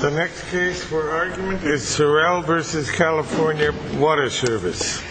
The next case for argument is Sorrell v. CA Water Service. The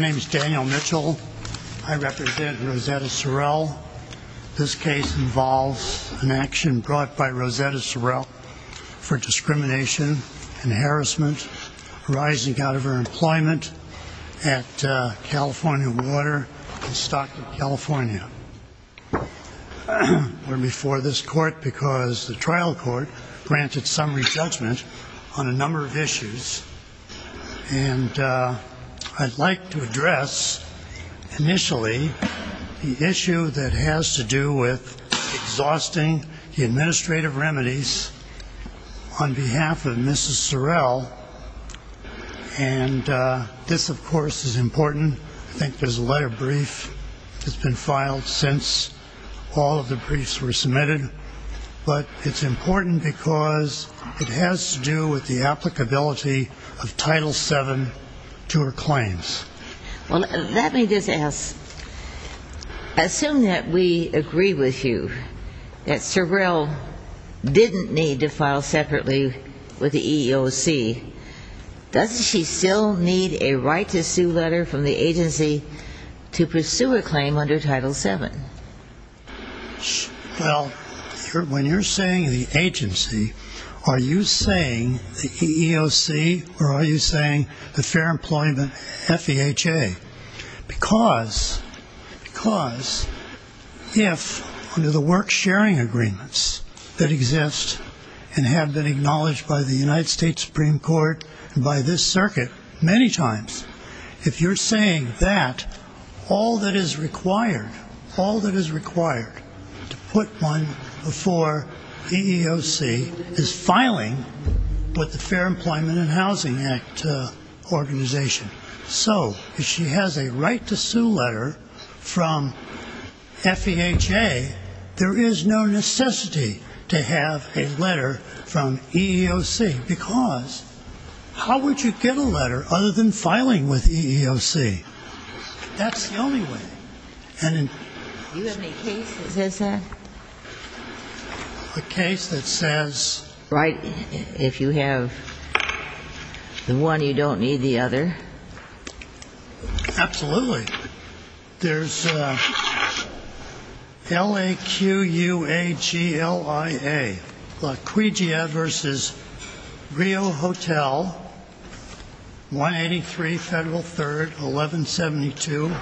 next case is Daniel Mitchell v. Rosetta Sorrell v. CA Water Service. This case involves an action brought by Rosetta Sorrell for discrimination and harassment arising out of her employment at California Water in Stockton, California. We're before this court because the trial court granted summary judgment on a number of issues. I'd like to address initially the issue that has to do with exhausting the administrative remedies on behalf of Mrs. Sorrell. This, of course, is important. I think there's a letter brief that's been filed since all of the briefs were submitted. But it's important because it has to do with the applicability of Title VII to her claims. Well, let me just ask, assume that we agree with you that Sorrell didn't need to file separately with the EEOC. Doesn't she still need a right-to-sue letter from the agency to pursue a claim under Title VII? Well, when you're saying the agency, are you saying the EEOC or are you saying the Fair Employment FEHA? Because if under the work-sharing agreements that exist and have been acknowledged by the United States Supreme Court and by this circuit many times, if you're saying that, all that is required to put one before the EEOC is filing with the Fair Employment and Housing Act organization. So if she has a right-to-sue letter from FEHA, there is no necessity to have a letter from EEOC, because how would you get a letter other than filing with EEOC? That's the only way. Do you have any case that says that? A case that says? Right, if you have the one, you don't need the other. Absolutely. There's L-A-Q-U-A-G-L-I-A, La Quija v. Rio Hotel, 183 Federal 3rd, 1172,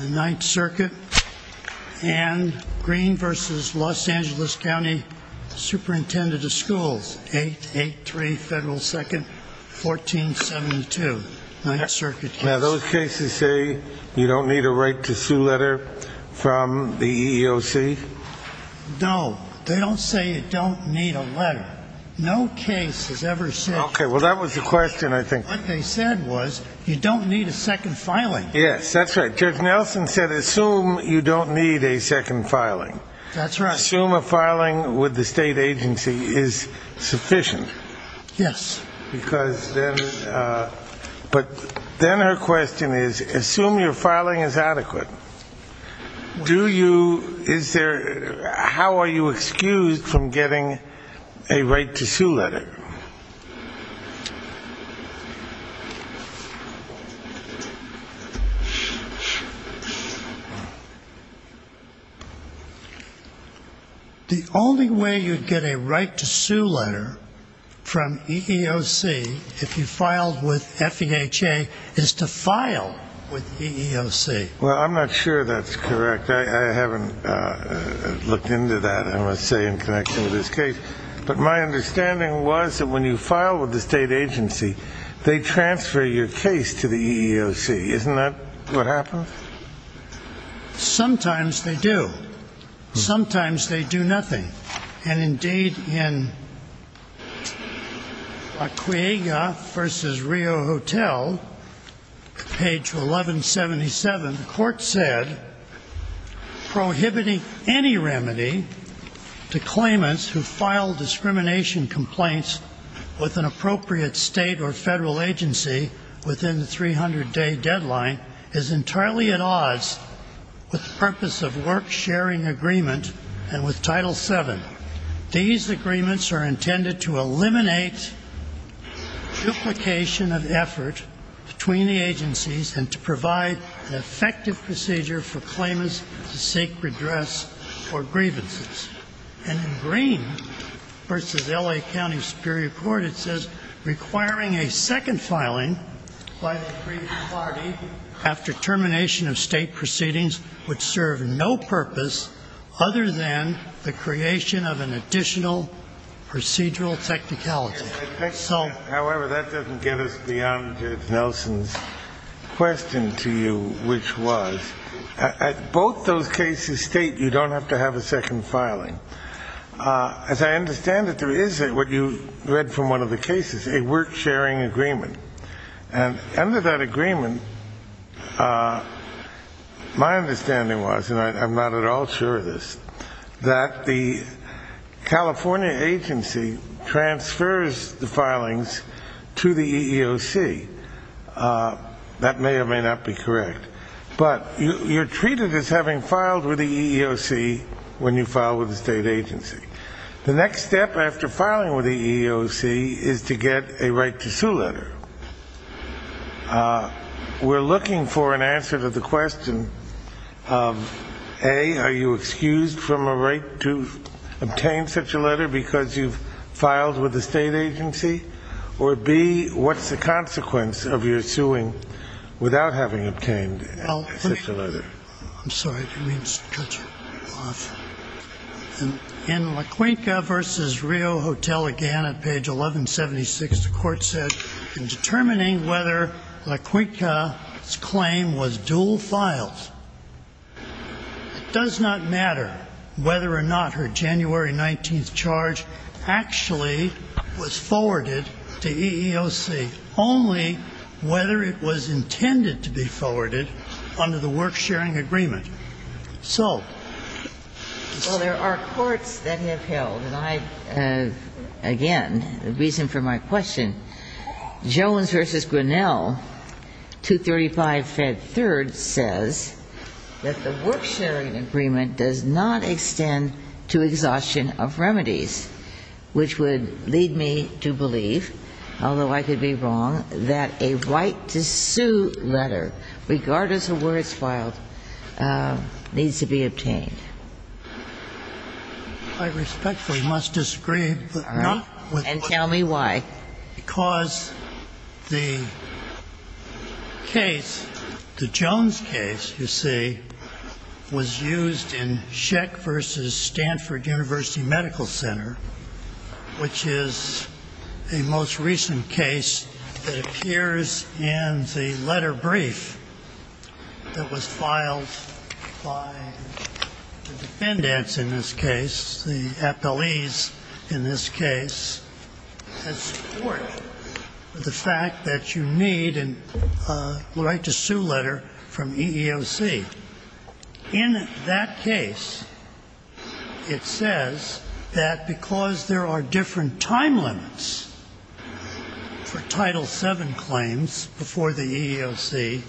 9th Circuit, and Green v. Los Angeles County Superintendent of Schools, 883 Federal 2nd, 1472, 9th Circuit. Now, those cases say you don't need a right-to-sue letter from the EEOC? No, they don't say you don't need a letter. No case has ever said that. Okay, well, that was the question, I think. What they said was you don't need a second filing. Yes, that's right. Judge Nelson said assume you don't need a second filing. That's right. Assume a filing with the state agency is sufficient. Yes. But then her question is, assume your filing is adequate, how are you excused from getting a right-to-sue letter? The only way you'd get a right-to-sue letter from EEOC, if you filed with FEHA, is to file with EEOC. Well, I'm not sure that's correct. I haven't looked into that, I must say, in connection with this case. But she says that when you file with the state agency, they transfer your case to the EEOC. Isn't that what happens? Sometimes they do. Sometimes they do nothing. And, indeed, in Acquiega v. Rio Hotel, page 1177, the court said, Prohibiting any remedy to claimants who file discrimination complaints with an appropriate state or federal agency within the 300-day deadline is entirely at odds with the purpose of work-sharing agreement and with Title VII. These agreements are intended to eliminate duplication of effort between the agencies and to provide an effective procedure for claimants to seek redress for grievances. And in Green v. L.A. County Superior Court, it says, Requiring a second filing by the grievance party after termination of state proceedings would serve no purpose other than the creation of an additional procedural technicality. However, that doesn't get us beyond Nelson's question to you, which was, both those cases state you don't have to have a second filing. As I understand it, there is, what you read from one of the cases, a work-sharing agreement. And under that agreement, my understanding was, and I'm not at all sure of this, that the California agency transfers the filings to the EEOC. That may or may not be correct. But you're treated as having filed with the EEOC when you file with a state agency. The next step after filing with the EEOC is to get a right-to-sue letter. We're looking for an answer to the question of, A, are you excused from a right to obtain such a letter because you've filed with a state agency? Or, B, what's the consequence of your suing without having obtained such a letter? I'm sorry. I didn't mean to cut you off. In LaQuinca v. Rio Hotel, again, at page 1176, the court said, in determining whether LaQuinca's claim was dual files, it does not matter whether or not her January 19th charge actually was forwarded to EEOC, only whether it was intended to be forwarded under the work-sharing agreement. So there are courts that have held, and I, again, the reason for my question, Jones v. Grinnell, 235 Fed 3rd, says that the work-sharing agreement does not extend to exhaustion of remedies, which would lead me to believe, although I could be wrong, that a right-to-sue letter, regardless of where it's filed, needs to be obtained. I respectfully must disagree. And tell me why. Because the case, the Jones case, you see, was used in Scheck v. Stanford University Medical Center, which is the most recent case that appears in the letter brief that was filed by the defendants in this case, the appellees in this case, to support the fact that you need a right-to-sue letter from EEOC. In that case, it says that because there are different time limits for Title VII claims before the EEOC,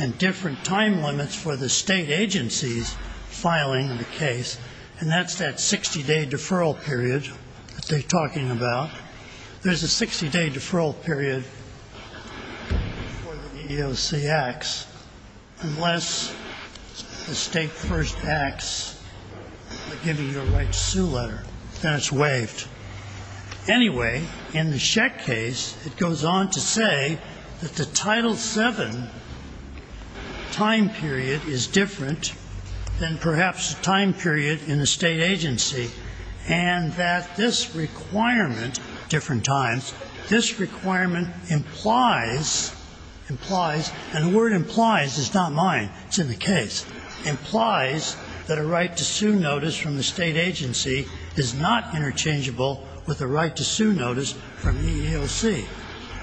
and different time limits for the state agencies filing the case, and that's that 60-day deferral period that they're talking about, there's a 60-day deferral period before the EEOC acts, unless the state first acts by giving you a right-to-sue letter. Then it's waived. Anyway, in the Scheck case, it goes on to say that the Title VII time period is different than perhaps the time period in the state agency, and that this requirement, different times, this requirement implies, and the word implies is not mine, it's in the case, implies that a right-to-sue notice from the state agency is not interchangeable with a right-to-sue notice from EEOC.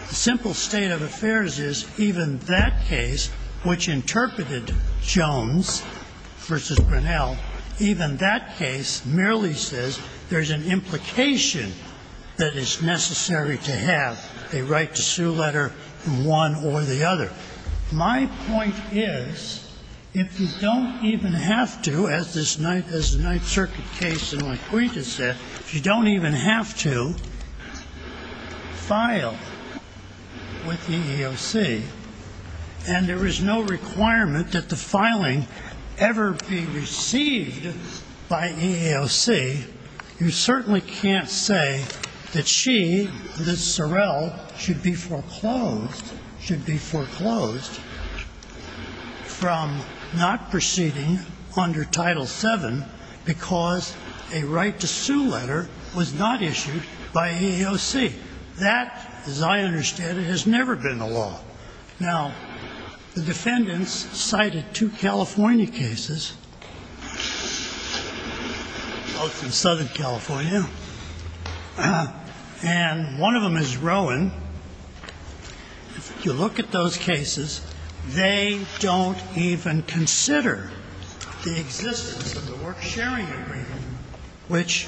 The simple state of affairs is even that case, which interpreted Jones v. Grinnell, even that case merely says there's an implication that it's necessary to have a right-to-sue letter from one or the other. But my point is, if you don't even have to, as the Ninth Circuit case in Laquita said, if you don't even have to file with EEOC and there is no requirement that the filing ever be received by EEOC, you certainly can't say that she, that Sorrell, should be foreclosed, should be foreclosed from not proceeding under Title VII because a right-to-sue letter was not issued by EEOC. That, as I understand it, has never been the law. Now, the defendants cited two California cases, both in Southern California, and one of them is Rowan. If you look at those cases, they don't even consider the existence of the work-sharing agreement, which,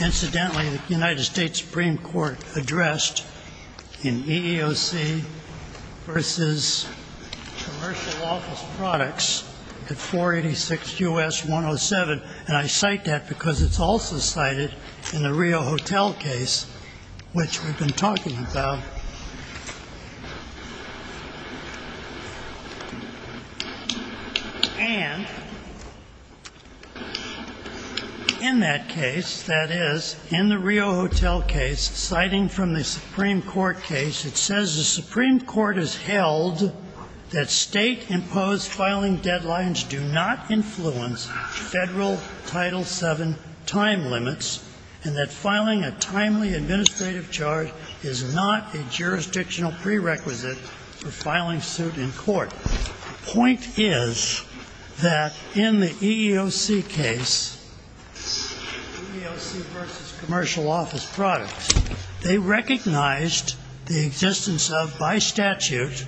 incidentally, the United States Supreme Court addressed in EEOC v. Commercial Office Products at 486 U.S. 107, and I cite that because it's also cited in the Rio Hotel case, which we've been talking about. And in that case, that is, in the Rio Hotel case, citing from the Supreme Court case, it says the Supreme Court has held that state-imposed filing deadlines do not influence federal Title VII time limits and that filing a timely administrative charge is not a jurisdictional prerequisite for filing suit in court. The point is that in the EEOC case, EEOC v. Commercial Office Products, they recognized the existence of, by statute,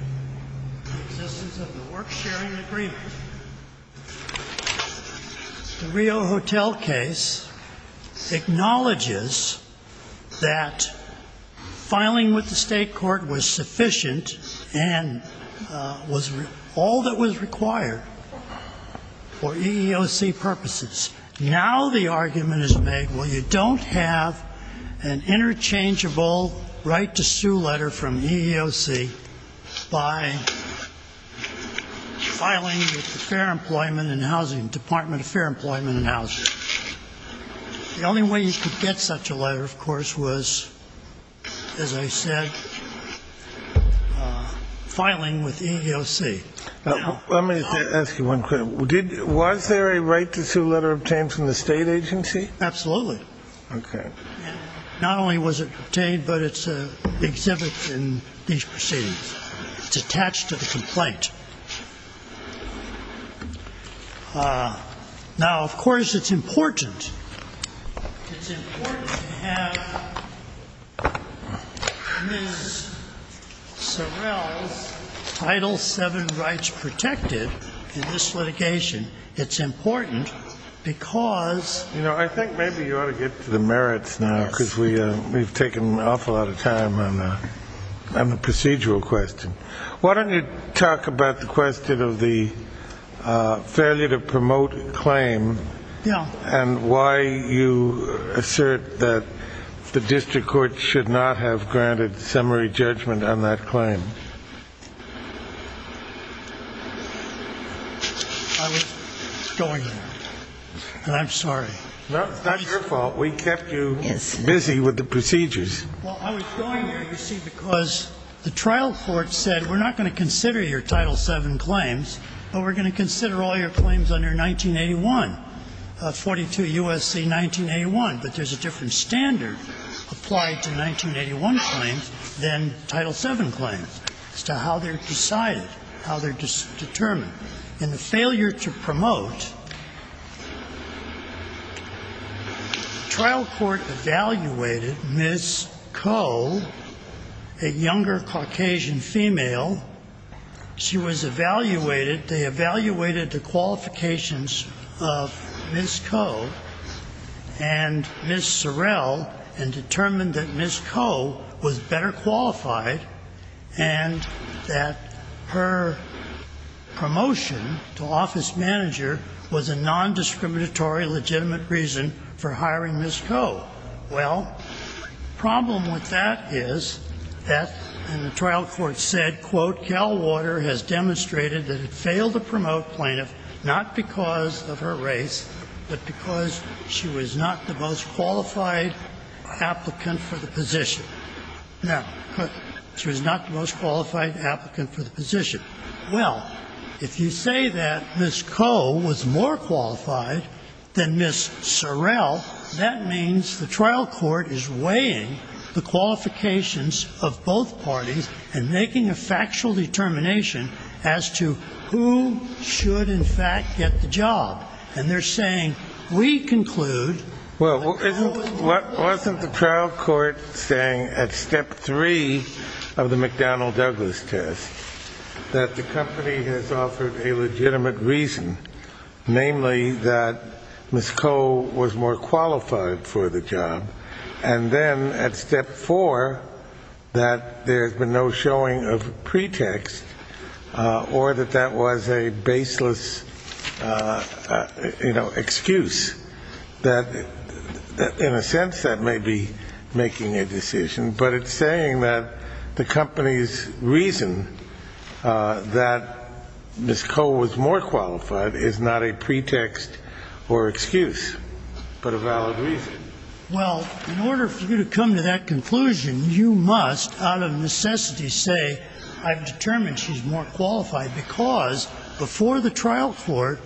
the existence of the work-sharing agreement. The Rio Hotel case acknowledges that filing with the state court was sufficient and was all that was required for EEOC purposes. Now the argument is made, well, you don't have an interchangeable right-to-sue letter from EEOC by filing with the Fair Employment and Housing, Department of Fair Employment and Housing. The only way you could get such a letter, of course, was, as I said, filing with EEOC. Now, let me ask you one question. Was there a right-to-sue letter obtained from the State agency? Absolutely. Okay. Not only was it obtained, but it's exhibited in these proceedings. It's attached to the complaint. Now, of course, it's important. It's important to have Ms. Sorrell's Title VII rights protected in this litigation. It's important because- You know, I think maybe you ought to get to the merits now because we've taken an awful lot of time on the procedural question. Why don't you talk about the question of the failure to promote a claim and why you assert that the district court should not have granted summary judgment on that claim? I was going there, and I'm sorry. No, it's not your fault. We kept you busy with the procedures. Well, I was going there, you see, because the trial court said, We're not going to consider your Title VII claims, but we're going to consider all your claims under 1981, 42 U.S.C. 1981. But there's a different standard applied to 1981 claims than Title VII claims as to how they're decided, how they're determined. In the failure to promote, trial court evaluated Ms. Coe, a younger Caucasian female. She was evaluated. They evaluated the qualifications of Ms. Coe and Ms. Sorrell and determined that Ms. Coe was better qualified and that her promotion to office manager was a nondiscriminatory legitimate reason for hiring Ms. Coe. Well, the problem with that is that, and the trial court said, has demonstrated that it failed to promote plaintiff, not because of her race, but because she was not the most qualified applicant for the position. Now, she was not the most qualified applicant for the position. Well, if you say that Ms. Coe was more qualified than Ms. Sorrell, that means the trial court is weighing the qualifications of both parties and making a factual determination as to who should, in fact, get the job. And they're saying, we conclude. Well, wasn't the trial court saying at step three of the McDonnell-Douglas test that the company has offered a legitimate reason, namely that Ms. Coe was more qualified for the job and then at step four that there's been no showing of pretext or that that was a baseless, you know, excuse, that in a sense that may be making a decision, but it's saying that the company's reason that Ms. Coe was more qualified is not a pretext or excuse, but a valid reason. Well, in order for you to come to that conclusion, you must, out of necessity, say I've determined she's more qualified because before the trial court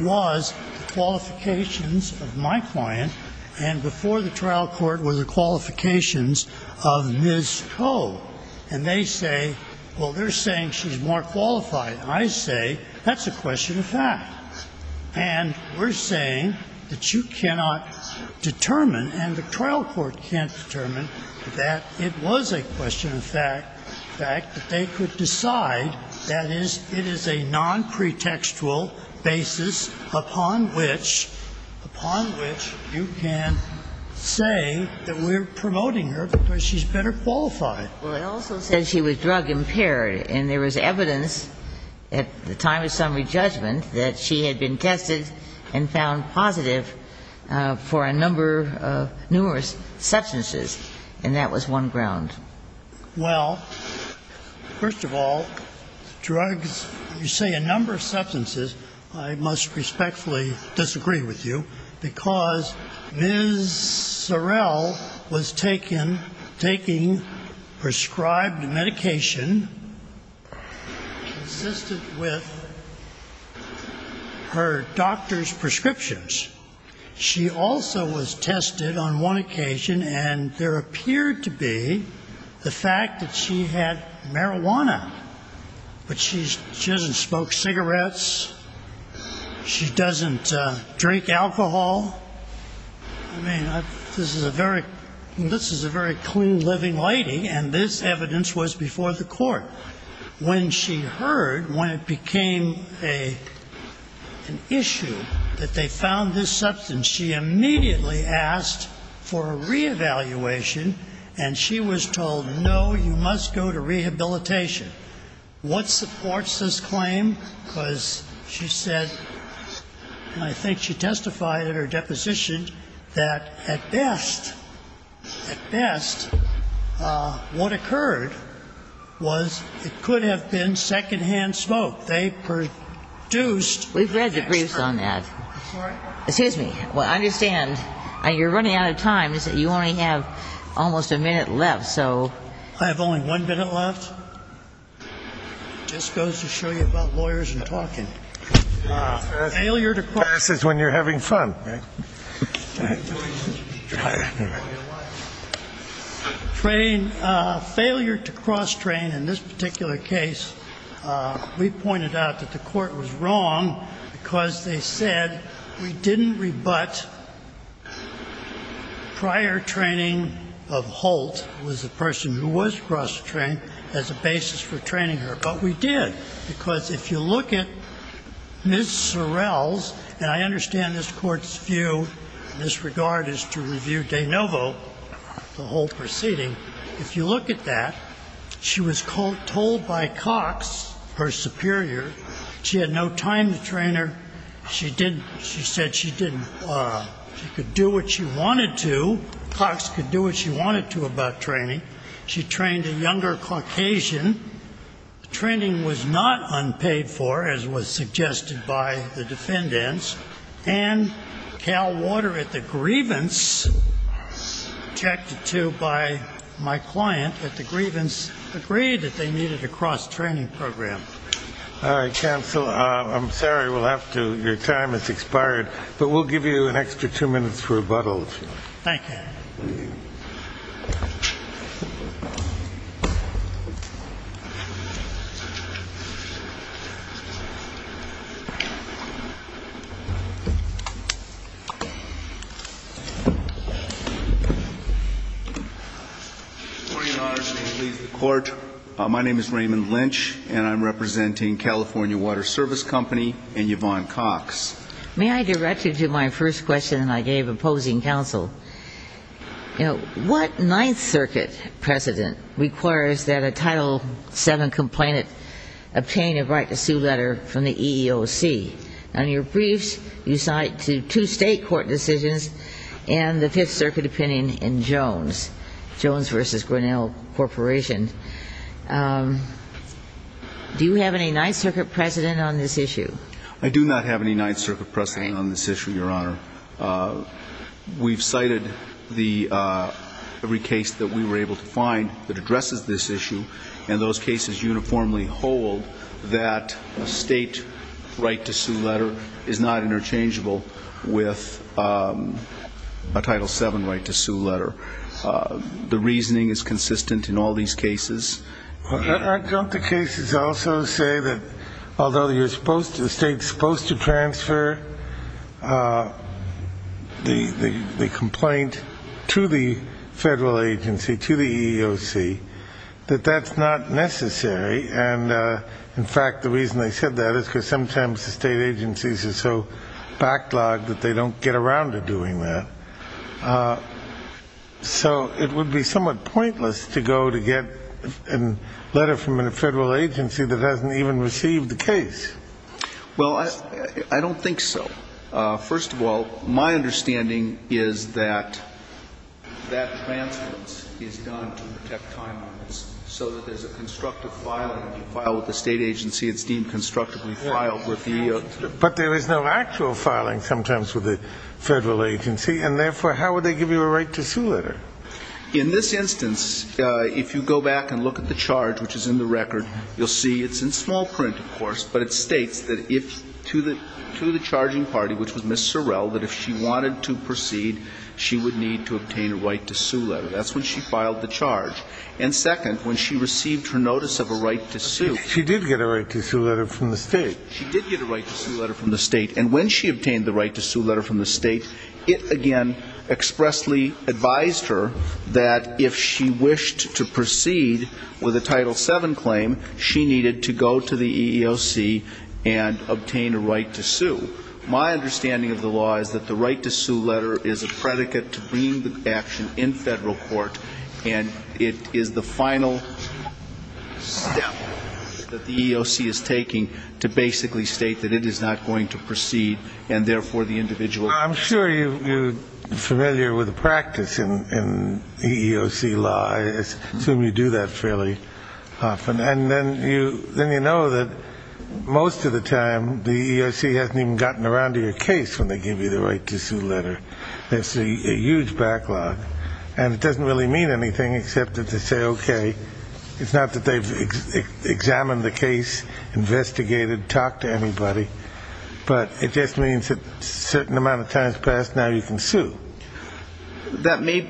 was the qualifications of my client and before the trial court were the qualifications of Ms. Coe. And they say, well, they're saying she's more qualified. And I say that's a question of fact. And we're saying that you cannot determine and the trial court can't determine that it was a question of fact that they could decide that it is a nonpretextual basis upon which, upon which you can say that we're promoting her because she's better qualified. Well, it also says she was drug impaired. And there was evidence at the time of summary judgment that she had been tested and found positive for a number of numerous substances, and that was one ground. Well, first of all, drugs, you say a number of substances. I must respectfully disagree with you because Ms. Sorrell was taken, taking prescribed medication consistent with her doctor's prescriptions. She also was tested on one occasion, and there appeared to be the fact that she had marijuana. But she doesn't smoke cigarettes. She doesn't drink alcohol. I mean, this is a very clean living lady, and this evidence was before the court. When she heard, when it became an issue that they found this substance, she immediately asked for a reevaluation, and she was told, no, you must go to rehabilitation. What supports this claim? Because she said, and I think she testified in her deposition, that at best, at best, what occurred was it could have been secondhand smoke. They produced extra. We've read the briefs on that. Excuse me. Well, I understand. You're running out of time. You only have almost a minute left, so. I have only one minute left. It just goes to show you about lawyers and talking. Failure to cross. Passes when you're having fun. Failure to cross-train. In this particular case, we pointed out that the court was wrong because they said we didn't rebut prior training of Holt, that this was a person who was cross-trained as a basis for training her. But we did. Because if you look at Ms. Sorrell's, and I understand this Court's view in this regard is to review De Novo, the Holt proceeding. If you look at that, she was told by Cox, her superior, she had no time to train her. She didn't. She said she didn't. She could do what she wanted to. Cox could do what she wanted to about training. She trained a younger Caucasian. Training was not unpaid for, as was suggested by the defendants. And Cal Water at the grievance, objected to by my client at the grievance, agreed that they needed a cross-training program. All right, counsel. I'm sorry. We'll have to. Your time has expired. But we'll give you an extra two minutes for rebuttal. Thank you. Good morning, Your Honors. May it please the Court. My name is Raymond Lynch, and I'm representing California Water Service Company and Yvonne Cox. May I direct you to my first question I gave opposing counsel? What Ninth Circuit precedent requires that a Title VII complainant obtain a right to sue letter from the EEOC? On your briefs, you cite two state court decisions and the Fifth Circuit opinion in Jones, Jones v. Grinnell Corporation. Do you have any Ninth Circuit precedent on this issue? I do not have any Ninth Circuit precedent on this issue, Your Honor. We've cited every case that we were able to find that addresses this issue, and those cases uniformly hold that a state right to sue letter is not interchangeable with a Title VII right to sue letter. The reasoning is consistent in all these cases. Don't the cases also say that although the state's supposed to transfer the complaint to the federal agency, to the EEOC, that that's not necessary? And, in fact, the reason they said that is because sometimes the state agencies are so backlogged that they don't get around to doing that. So it would be somewhat pointless to go to get a letter from a federal agency that hasn't even received the case. Well, I don't think so. First of all, my understanding is that that transference is done to protect time limits so that there's a constructive filing. If you file with the state agency, it's deemed constructively filed with the EEOC. But there is no actual filing sometimes with the federal agency, and, therefore, how would they give you a right to sue letter? In this instance, if you go back and look at the charge, which is in the record, you'll see it's in small print, of course, but it states to the charging party, which was Ms. Sorrell, that if she wanted to proceed, she would need to obtain a right to sue letter. That's when she filed the charge. And, second, when she received her notice of a right to sue. She did get a right to sue letter from the state. She did get a right to sue letter from the state. And when she obtained the right to sue letter from the state, it, again, expressly advised her that if she wished to proceed with a Title VII claim, she needed to go to the EEOC and obtain a right to sue. My understanding of the law is that the right to sue letter is a predicate to bringing the action in federal court, and it is the final step that the EEOC is taking to basically state that it is not going to proceed, and, therefore, the individual. I'm sure you're familiar with the practice in EEOC law. I assume you do that fairly often. And then you know that most of the time the EEOC hasn't even gotten around to your case when they give you the right to sue letter. It's a huge backlog. And it doesn't really mean anything except that they say, okay, it's not that they've examined the case, investigated, talked to anybody, but it just means that a certain amount of time has passed, now you can sue. That may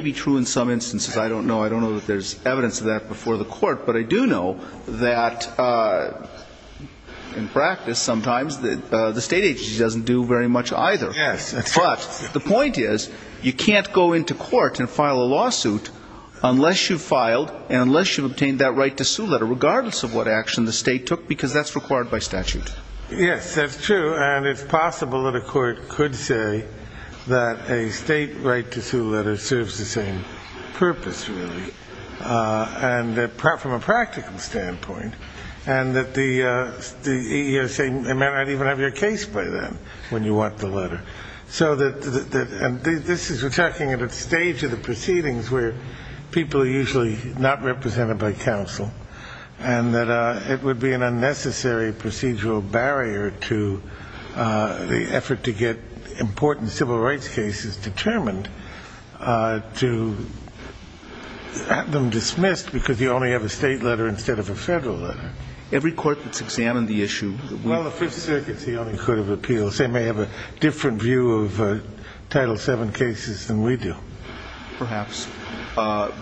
be true in some instances. I don't know. I don't know that there's evidence of that before the court. But I do know that, in practice, sometimes the state agency doesn't do very much either. But the point is you can't go into court and file a lawsuit unless you've filed and unless you've obtained that right to sue letter, regardless of what action the state took, because that's required by statute. Yes, that's true. And it's possible that a court could say that a state right to sue letter serves the same purpose, really, from a practical standpoint, and that the EEOC may not even have your case by then when you want the letter. So this is attacking at a stage of the proceedings where people are usually not represented by counsel and that it would be an unnecessary procedural barrier to the effort to get important civil rights cases determined to have them dismissed because you only have a state letter instead of a federal letter. Every court that's examined the issue. Well, the Fifth Circuit's the only court of appeals. They may have a different view of Title VII cases than we do. Perhaps.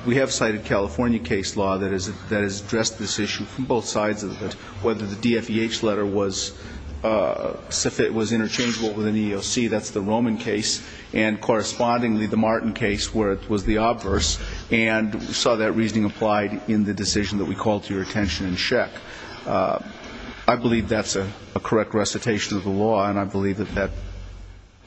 We have cited California case law that has addressed this issue from both sides of it, whether the DFEH letter was interchangeable with an EEOC, that's the Roman case, and correspondingly the Martin case, where it was the obverse, and we saw that reasoning applied in the decision that we called to your attention in Scheck. I believe that's a correct recitation of the law, and I believe that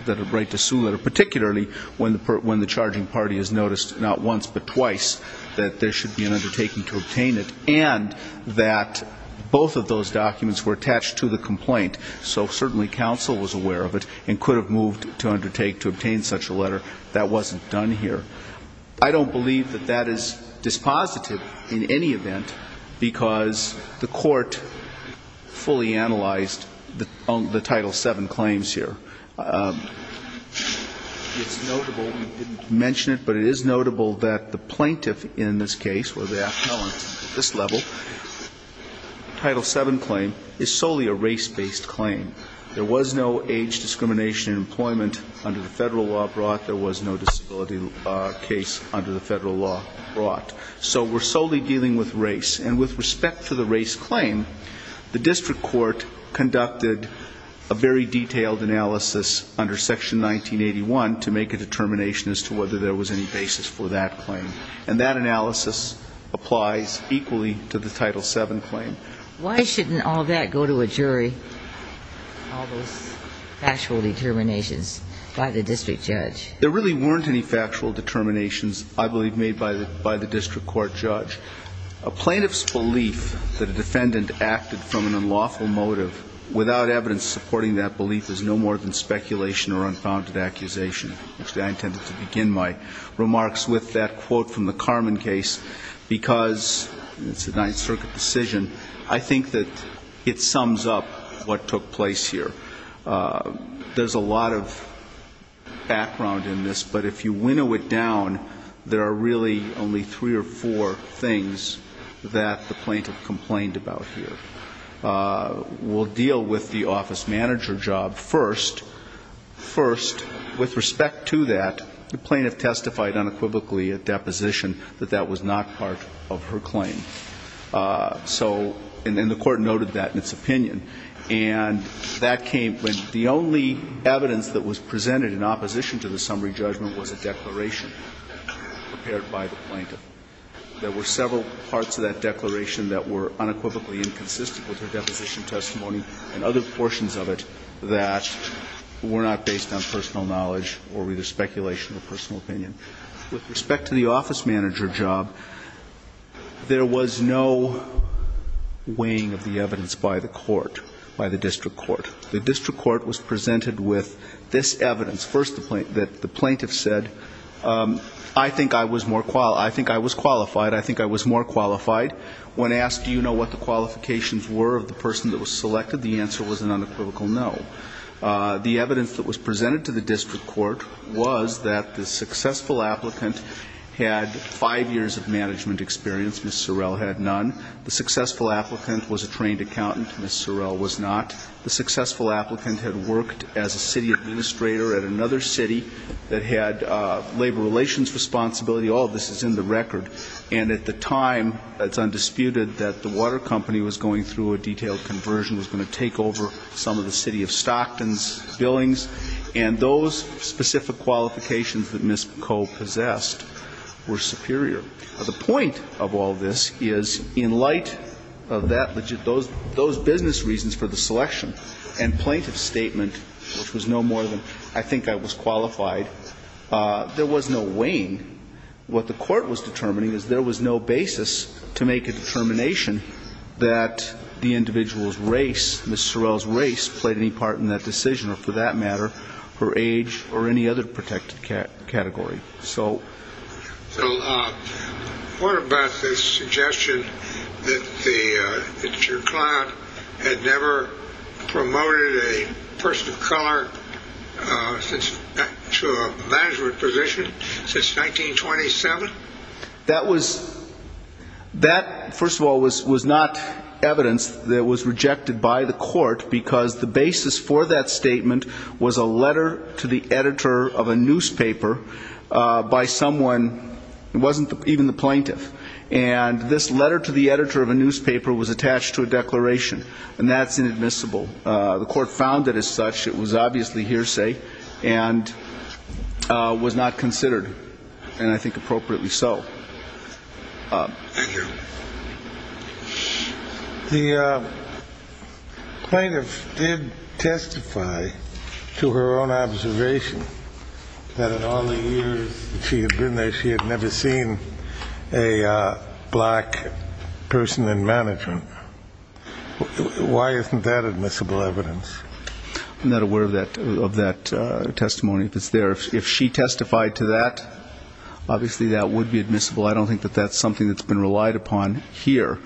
a right to sue letter, particularly when the charging party has noticed not once but twice that there should be an undertaking to obtain it, and that both of those documents were attached to the complaint, so certainly counsel was aware of it and could have moved to undertake to obtain such a letter. That wasn't done here. I don't believe that that is dispositive in any event because the court fully analyzed the Title VII claims here. It's notable. We didn't mention it, but it is notable that the plaintiff in this case or the appellant at this level, Title VII claim is solely a race-based claim. There was no age discrimination in employment under the federal law brought. There was no disability case under the federal law brought. So we're solely dealing with race, and with respect to the race claim, the district court conducted a very detailed analysis under Section 1981 to make a determination as to whether there was any basis for that claim, and that analysis applies equally to the Title VII claim. Why shouldn't all that go to a jury, all those factual determinations by the district judge? There really weren't any factual determinations, I believe, made by the district court judge. A plaintiff's belief that a defendant acted from an unlawful motive, without evidence supporting that belief, is no more than speculation or unfounded accusation. Actually, I intended to begin my remarks with that quote from the Carman case, because it's a Ninth Circuit decision. I think that it sums up what took place here. There's a lot of background in this, but if you winnow it down, there are really only three or four things that the plaintiff complained about here. We'll deal with the office manager job first. First, with respect to that, the plaintiff testified unequivocally at deposition that that was not part of her claim, and the court noted that in its opinion. And the only evidence that was presented in opposition to the summary judgment was a declaration prepared by the plaintiff. There were several parts of that declaration that were unequivocally inconsistent with her deposition testimony and other portions of it that were not based on personal knowledge or either speculation or personal opinion. With respect to the office manager job, there was no weighing of the evidence by the court, by the district court. The district court was presented with this evidence. First, the plaintiff said, I think I was qualified. I think I was more qualified. When asked, do you know what the qualifications were of the person that was selected, the answer was an unequivocal no. The evidence that was presented to the district court was that the successful applicant had five years of management experience. Ms. Sorrell had none. The successful applicant was a trained accountant. Ms. Sorrell was not. The successful applicant had worked as a city administrator at another city that had labor relations responsibility. All of this is in the record. And at the time, it's undisputed that the water company was going through a detailed conversion, was going to take over some of the city of Stockton's billings. And those specific qualifications that Ms. Coe possessed were superior. The point of all this is, in light of that, those business reasons for the selection and plaintiff's statement, which was no more than, I think I was qualified, there was no weighing. What the court was determining is there was no basis to make a determination that the individual's race, Ms. Sorrell's race, played any part in that decision or, for that matter, her age or any other protected category. What about the suggestion that your client had never promoted a person of color to a management position since 1927? That, first of all, was not evidence that was rejected by the court because the basis for that statement was a letter to the editor of a newspaper by someone who wasn't even the plaintiff. And this letter to the editor of a newspaper was attached to a declaration. And that's inadmissible. The court found it as such. It was obviously hearsay and was not considered, and I think appropriately so. Thank you. The plaintiff did testify to her own observation that in all the years she had been there, she had never seen a black person in management. Why isn't that admissible evidence? I'm not aware of that testimony, if it's there. If she testified to that, obviously that would be admissible. I don't think that that's something that's been relied upon here.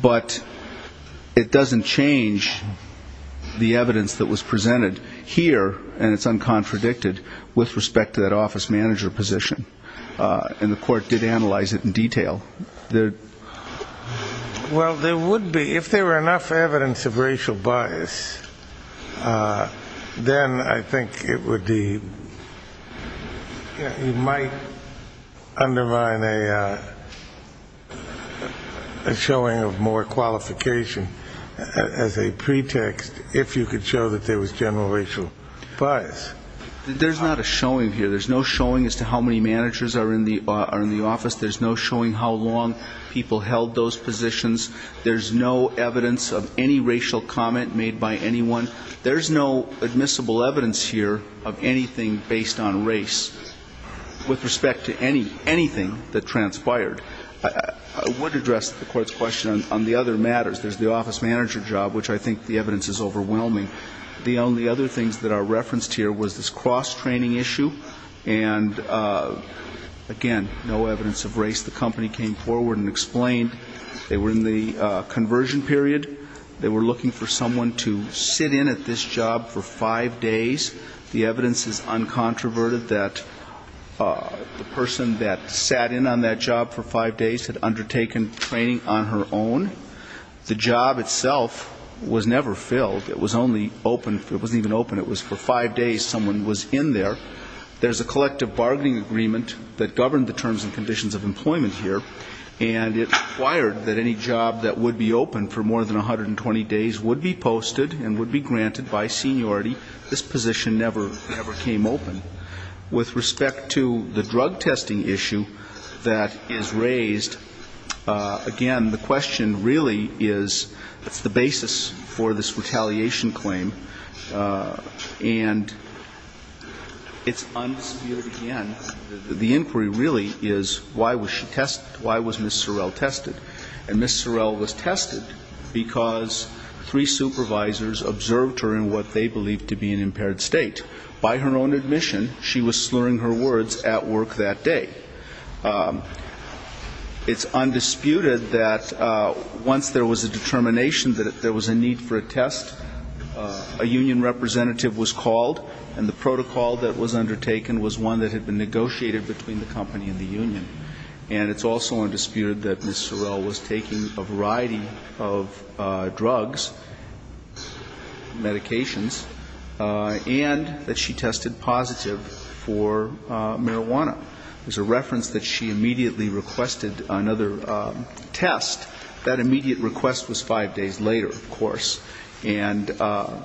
But it doesn't change the evidence that was presented here, and it's uncontradicted with respect to that office manager position. And the court did analyze it in detail. Well, there would be. If there were enough evidence of racial bias, then I think it would be, it might undermine a showing of more qualification as a pretext, if you could show that there was general racial bias. There's not a showing here. There's no showing as to how many managers are in the office. There's no showing how long people held those positions. There's no evidence of any racial comment made by anyone. There's no admissible evidence here of anything based on race with respect to anything that transpired. I would address the Court's question on the other matters. There's the office manager job, which I think the evidence is overwhelming. The only other things that are referenced here was this cross-training issue, and, again, no evidence of race. The company came forward and explained they were in the conversion period. They were looking for someone to sit in at this job for five days. The evidence is uncontroverted that the person that sat in on that job for five days had undertaken training on her own. The job itself was never filled. It was only open. It wasn't even open. It was for five days someone was in there. There's a collective bargaining agreement that governed the terms and conditions of employment here, and it required that any job that would be open for more than 120 days would be posted and would be granted by seniority. This position never came open. With respect to the drug testing issue that is raised, again, the question really is, that's the basis for this retaliation claim, and it's undisputed, again, that the inquiry really is why was she tested, why was Ms. Sorrell tested? And Ms. Sorrell was tested because three supervisors observed her in what they believed to be an impaired state. By her own admission, she was slurring her words at work that day. It's undisputed that once there was a determination that there was a need for a test, a union representative was called, and the protocol that was undertaken was one that had been negotiated between the company and the union. And it's also undisputed that Ms. Sorrell was taking a variety of drugs, medications, and that she tested positive for marijuana. There's a reference that she immediately requested another test. That immediate request was five days later, of course, and the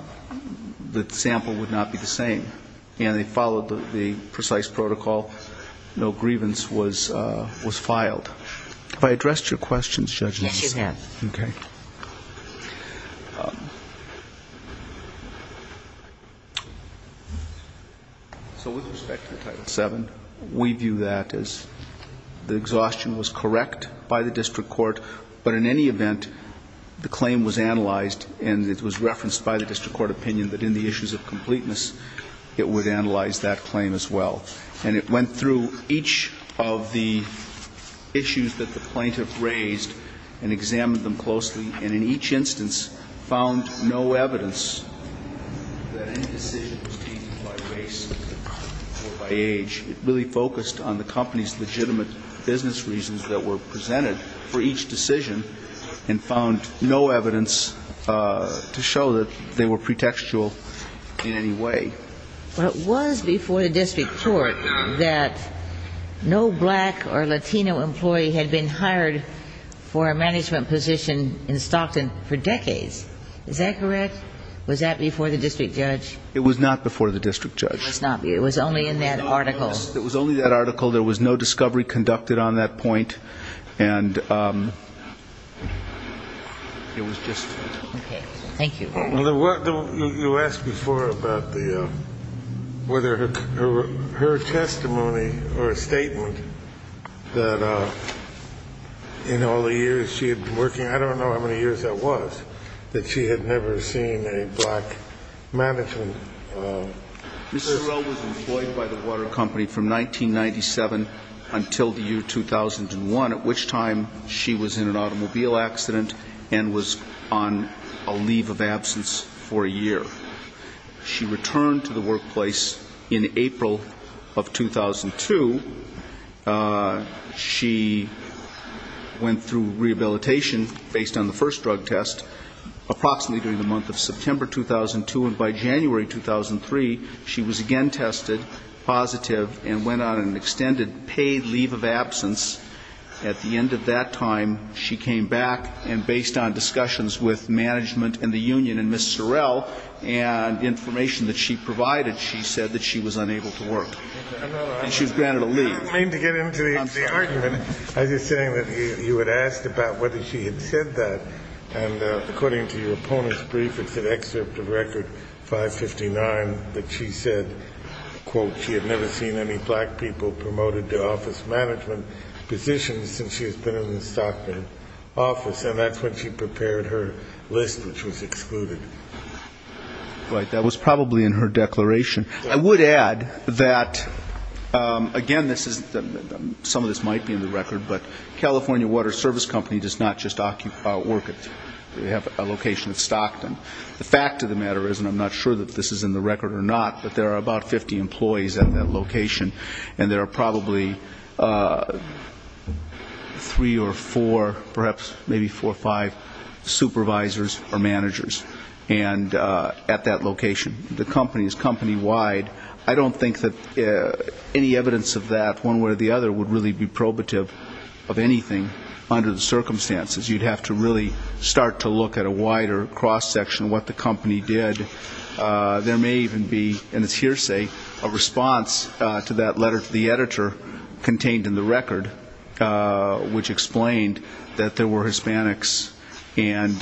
sample would not be the same. And they followed the precise protocol, no grievance was filed. Have I addressed your questions, Judge? Yes, you have. Okay. So with respect to Title VII, we view that as the exhaustion was correct by the district court, but in any event, the claim was analyzed and it was referenced by the district court opinion that in the issues of completeness, it would analyze that claim as well. And it went through each of the issues that the plaintiff raised and examined them closely, and in each instance found no evidence that any decision was taken by race or by age. It really focused on the company's legitimate business reasons that were presented for each decision and found no evidence to show that they were pretextual in any way. But it was before the district court that no black or Latino employee had been hired for a management position in Stockton for decades. Is that correct? Was that before the district judge? It was not before the district judge. It was only in that article. It was only that article. There was no discovery conducted on that point. And it was just that. Okay. Thank you. Well, you asked before about the ‑‑ whether her testimony or statement that in all the years she had been working, I don't know how many years that was, that she had never seen a black management person. Ms. Sorrell was employed by the water company from 1997 until the year 2001, at which time she was in an automobile accident and was on the water company. And she was on a leave of absence for a year. She returned to the workplace in April of 2002. She went through rehabilitation based on the first drug test approximately during the month of September 2002 and by January 2003, she was again tested positive and went on an extended paid leave of absence. At the end of that time, she came back and based on discussions with management and the union and Ms. Sorrell and information that she provided, she said that she was unable to work. And she was granted a leave. I didn't mean to get into the argument. I was just saying that you had asked about whether she had said that. And according to your opponent's brief, it's an excerpt of record 559 that she said, quote, she had never seen any black people promoted to office management. And that's when she prepared her list, which was excluded. Right. That was probably in her declaration. I would add that, again, this is the, some of this might be in the record, but California Water Service Company does not just occupy, work at, they have a location in Stockton. The fact of the matter is, and I'm not sure if this is in the record or not, but there are about 50 employees at that location, and there are probably a few other employees in the office. Three or four, perhaps maybe four or five supervisors or managers. And at that location, the company is company-wide. I don't think that any evidence of that one way or the other would really be probative of anything under the circumstances. You'd have to really start to look at a wider cross-section of what the company did. There may even be, and it's hearsay, a response to that letter to the editor contained in the record. Which explained that there were Hispanics and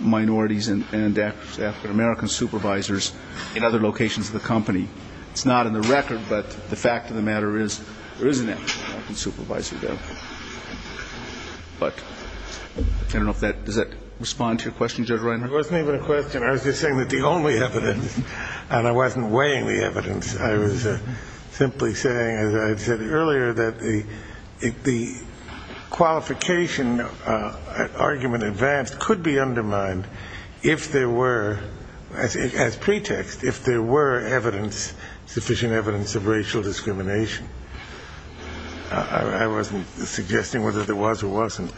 minorities and African-American supervisors in other locations of the company. It's not in the record, but the fact of the matter is, there is an African-American supervisor there. But I don't know if that, does that respond to your question, Judge Reimer? It wasn't even a question. I was just saying that the only evidence, and I wasn't weighing the evidence, I was simply saying, as I said earlier, that the, it could be that there was an African-American supervisor there. And that the qualification argument advanced could be undermined if there were, as pretext, if there were sufficient evidence of racial discrimination. I wasn't suggesting whether there was or wasn't.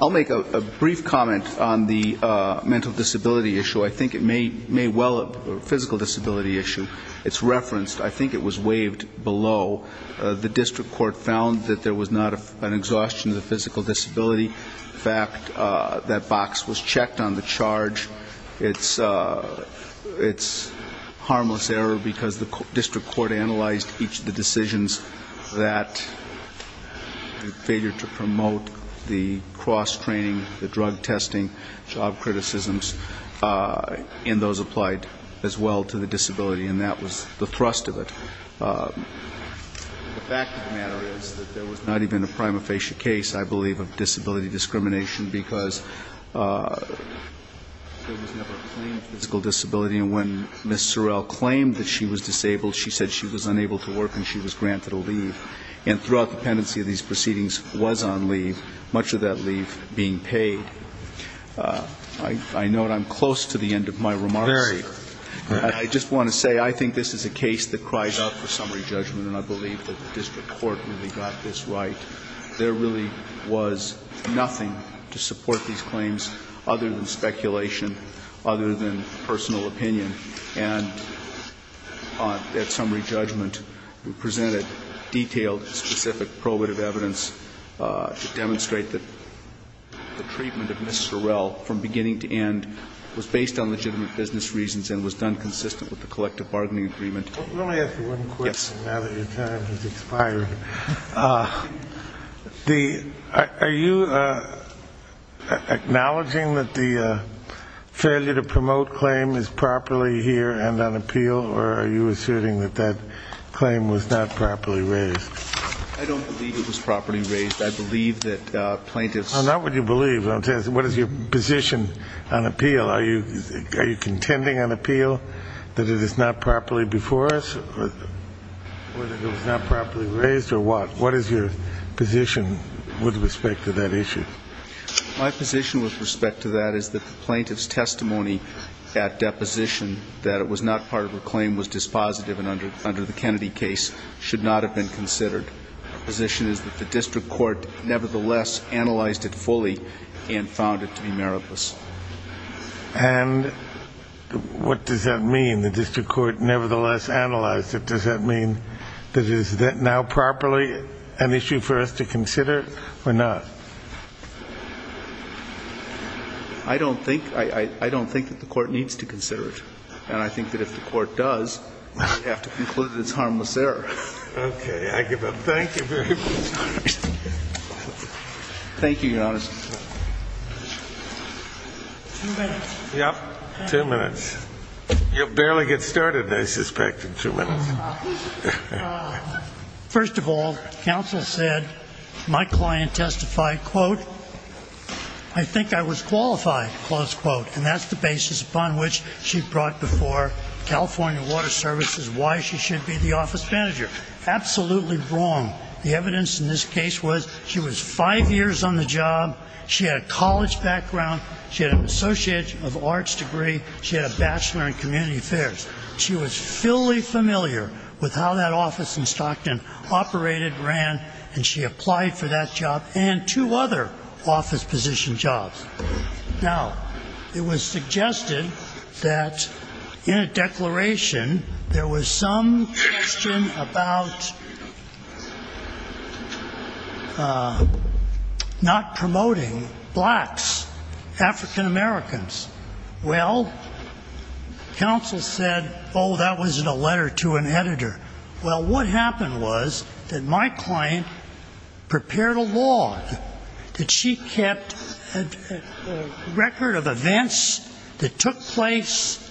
I'll make a brief comment on the mental disability issue. I think it may well, physical disability issue, it's referenced, I think it was waived below the district court found that there was an African-American supervisor there. It was found that there was not an exhaustion of the physical disability. In fact, that box was checked on the charge. It's harmless error because the district court analyzed each of the decisions that the failure to promote the cross-training, the drug testing, job criticisms, and those applied as well to the disability, and that was the thrust of it. The fact of the matter is that there was not even a prima facie case, I believe, of disability discrimination because there was never a claim to physical disability. And when Ms. Sorrell claimed that she was disabled, she said she was unable to work and she was granted a leave. And throughout the pendency of these proceedings was on leave, much of that leave being paid. I note I'm close to the end of my remarks here. I just want to say I think this is a case that cries out for summary judgment, and I believe that the district court really got this right. There really was nothing to support these claims other than speculation, other than personal opinion. And at summary judgment, we presented detailed, specific probative evidence to demonstrate that the treatment of Ms. Sorrell from beginning to end was based on legitimate business reasons and legitimate legal reasons. And it was done consistent with the collective bargaining agreement. Are you acknowledging that the failure to promote claim is properly here and on appeal, or are you asserting that that claim was not properly raised? I don't believe it was properly raised. I believe that plaintiffs... Do you feel that it is not properly before us, or that it was not properly raised, or what? What is your position with respect to that issue? My position with respect to that is that the plaintiff's testimony at deposition that it was not part of her claim was dispositive and under the Kennedy case should not have been considered. The position is that the district court nevertheless analyzed it fully and found it to be meritless. And what does that mean, the district court nevertheless analyzed it? Does that mean that it is now properly an issue for us to consider or not? I don't think that the court needs to consider it. And I think that if the court does, we have to conclude that it's harmless error. Okay. I give up. Thank you very much. Two minutes. First of all, counsel said, my client testified, quote, I think I was qualified, close quote. And that's the basis upon which she brought before California Water Services why she should be the office manager. Absolutely wrong. The evidence in this case was she was five years on the job, she had a college background, she had a career, she had a job. She had an associate of arts degree, she had a bachelor in community affairs. She was fully familiar with how that office in Stockton operated, ran, and she applied for that job and two other office position jobs. Now, it was suggested that in a declaration, there was some question about not promoting blacks, African-Americans, African-Americans. Well, counsel said, oh, that was in a letter to an editor. Well, what happened was that my client prepared a log that she kept a record of events that took place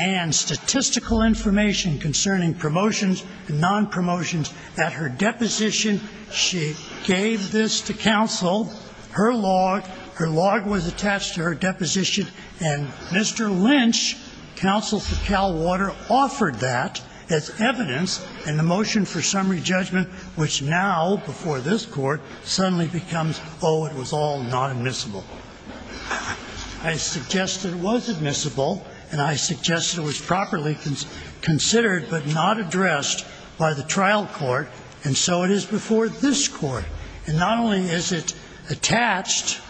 and statistical information concerning promotions and nonpromotions. At her deposition, she gave this to counsel, her log, her log was attached to her deposition. And Mr. Lynch, counsel for Cal Water, offered that as evidence in the motion for summary judgment, which now, before this court, suddenly becomes, oh, it was all not admissible. I suggested it was admissible, and I suggested it was properly considered but not addressed by the trial court, and so it is before this court. And not only is it attached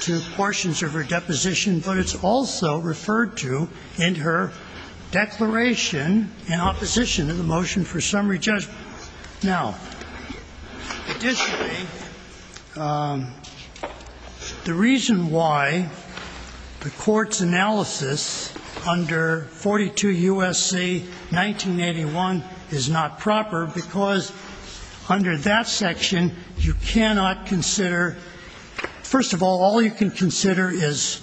to portions of her deposition, but it's also referred to in her declaration in opposition to the motion for summary judgment. Now, additionally, the reason why the court's analysis under 42 U.S.C. 1981 is not proper, because under that section, there is a clause that says, you cannot consider, first of all, all you can consider is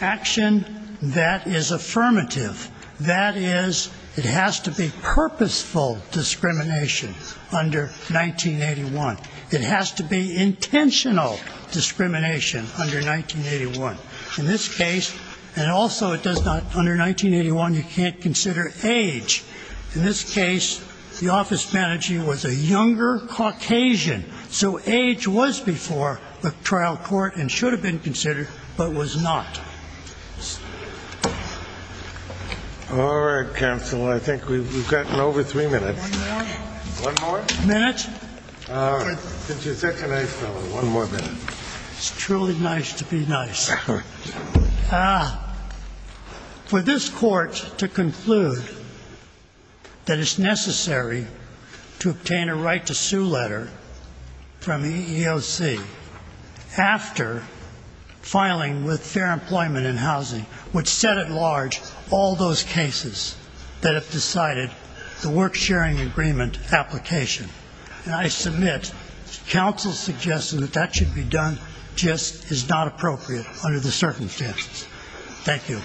action that is affirmative, that is, it has to be purposeful discrimination under 1981. It has to be intentional discrimination under 1981. In this case, and also it does not, under 1981, you can't consider age. In this case, the office manager was a younger Caucasian, so age was before the trial court and should have been considered, but was not. All right, counsel. I think we've gotten over three minutes. One more? One more minute. It's truly nice to be nice. For this court to conclude that it's necessary to obtain a right to sue letter from EEOC after filing with Fair Employment and Housing, which set at large all those cases that have decided the work-sharing agreement application. And I submit counsel's suggestion that that should be done just is not appropriate under the circumstances. Thank you.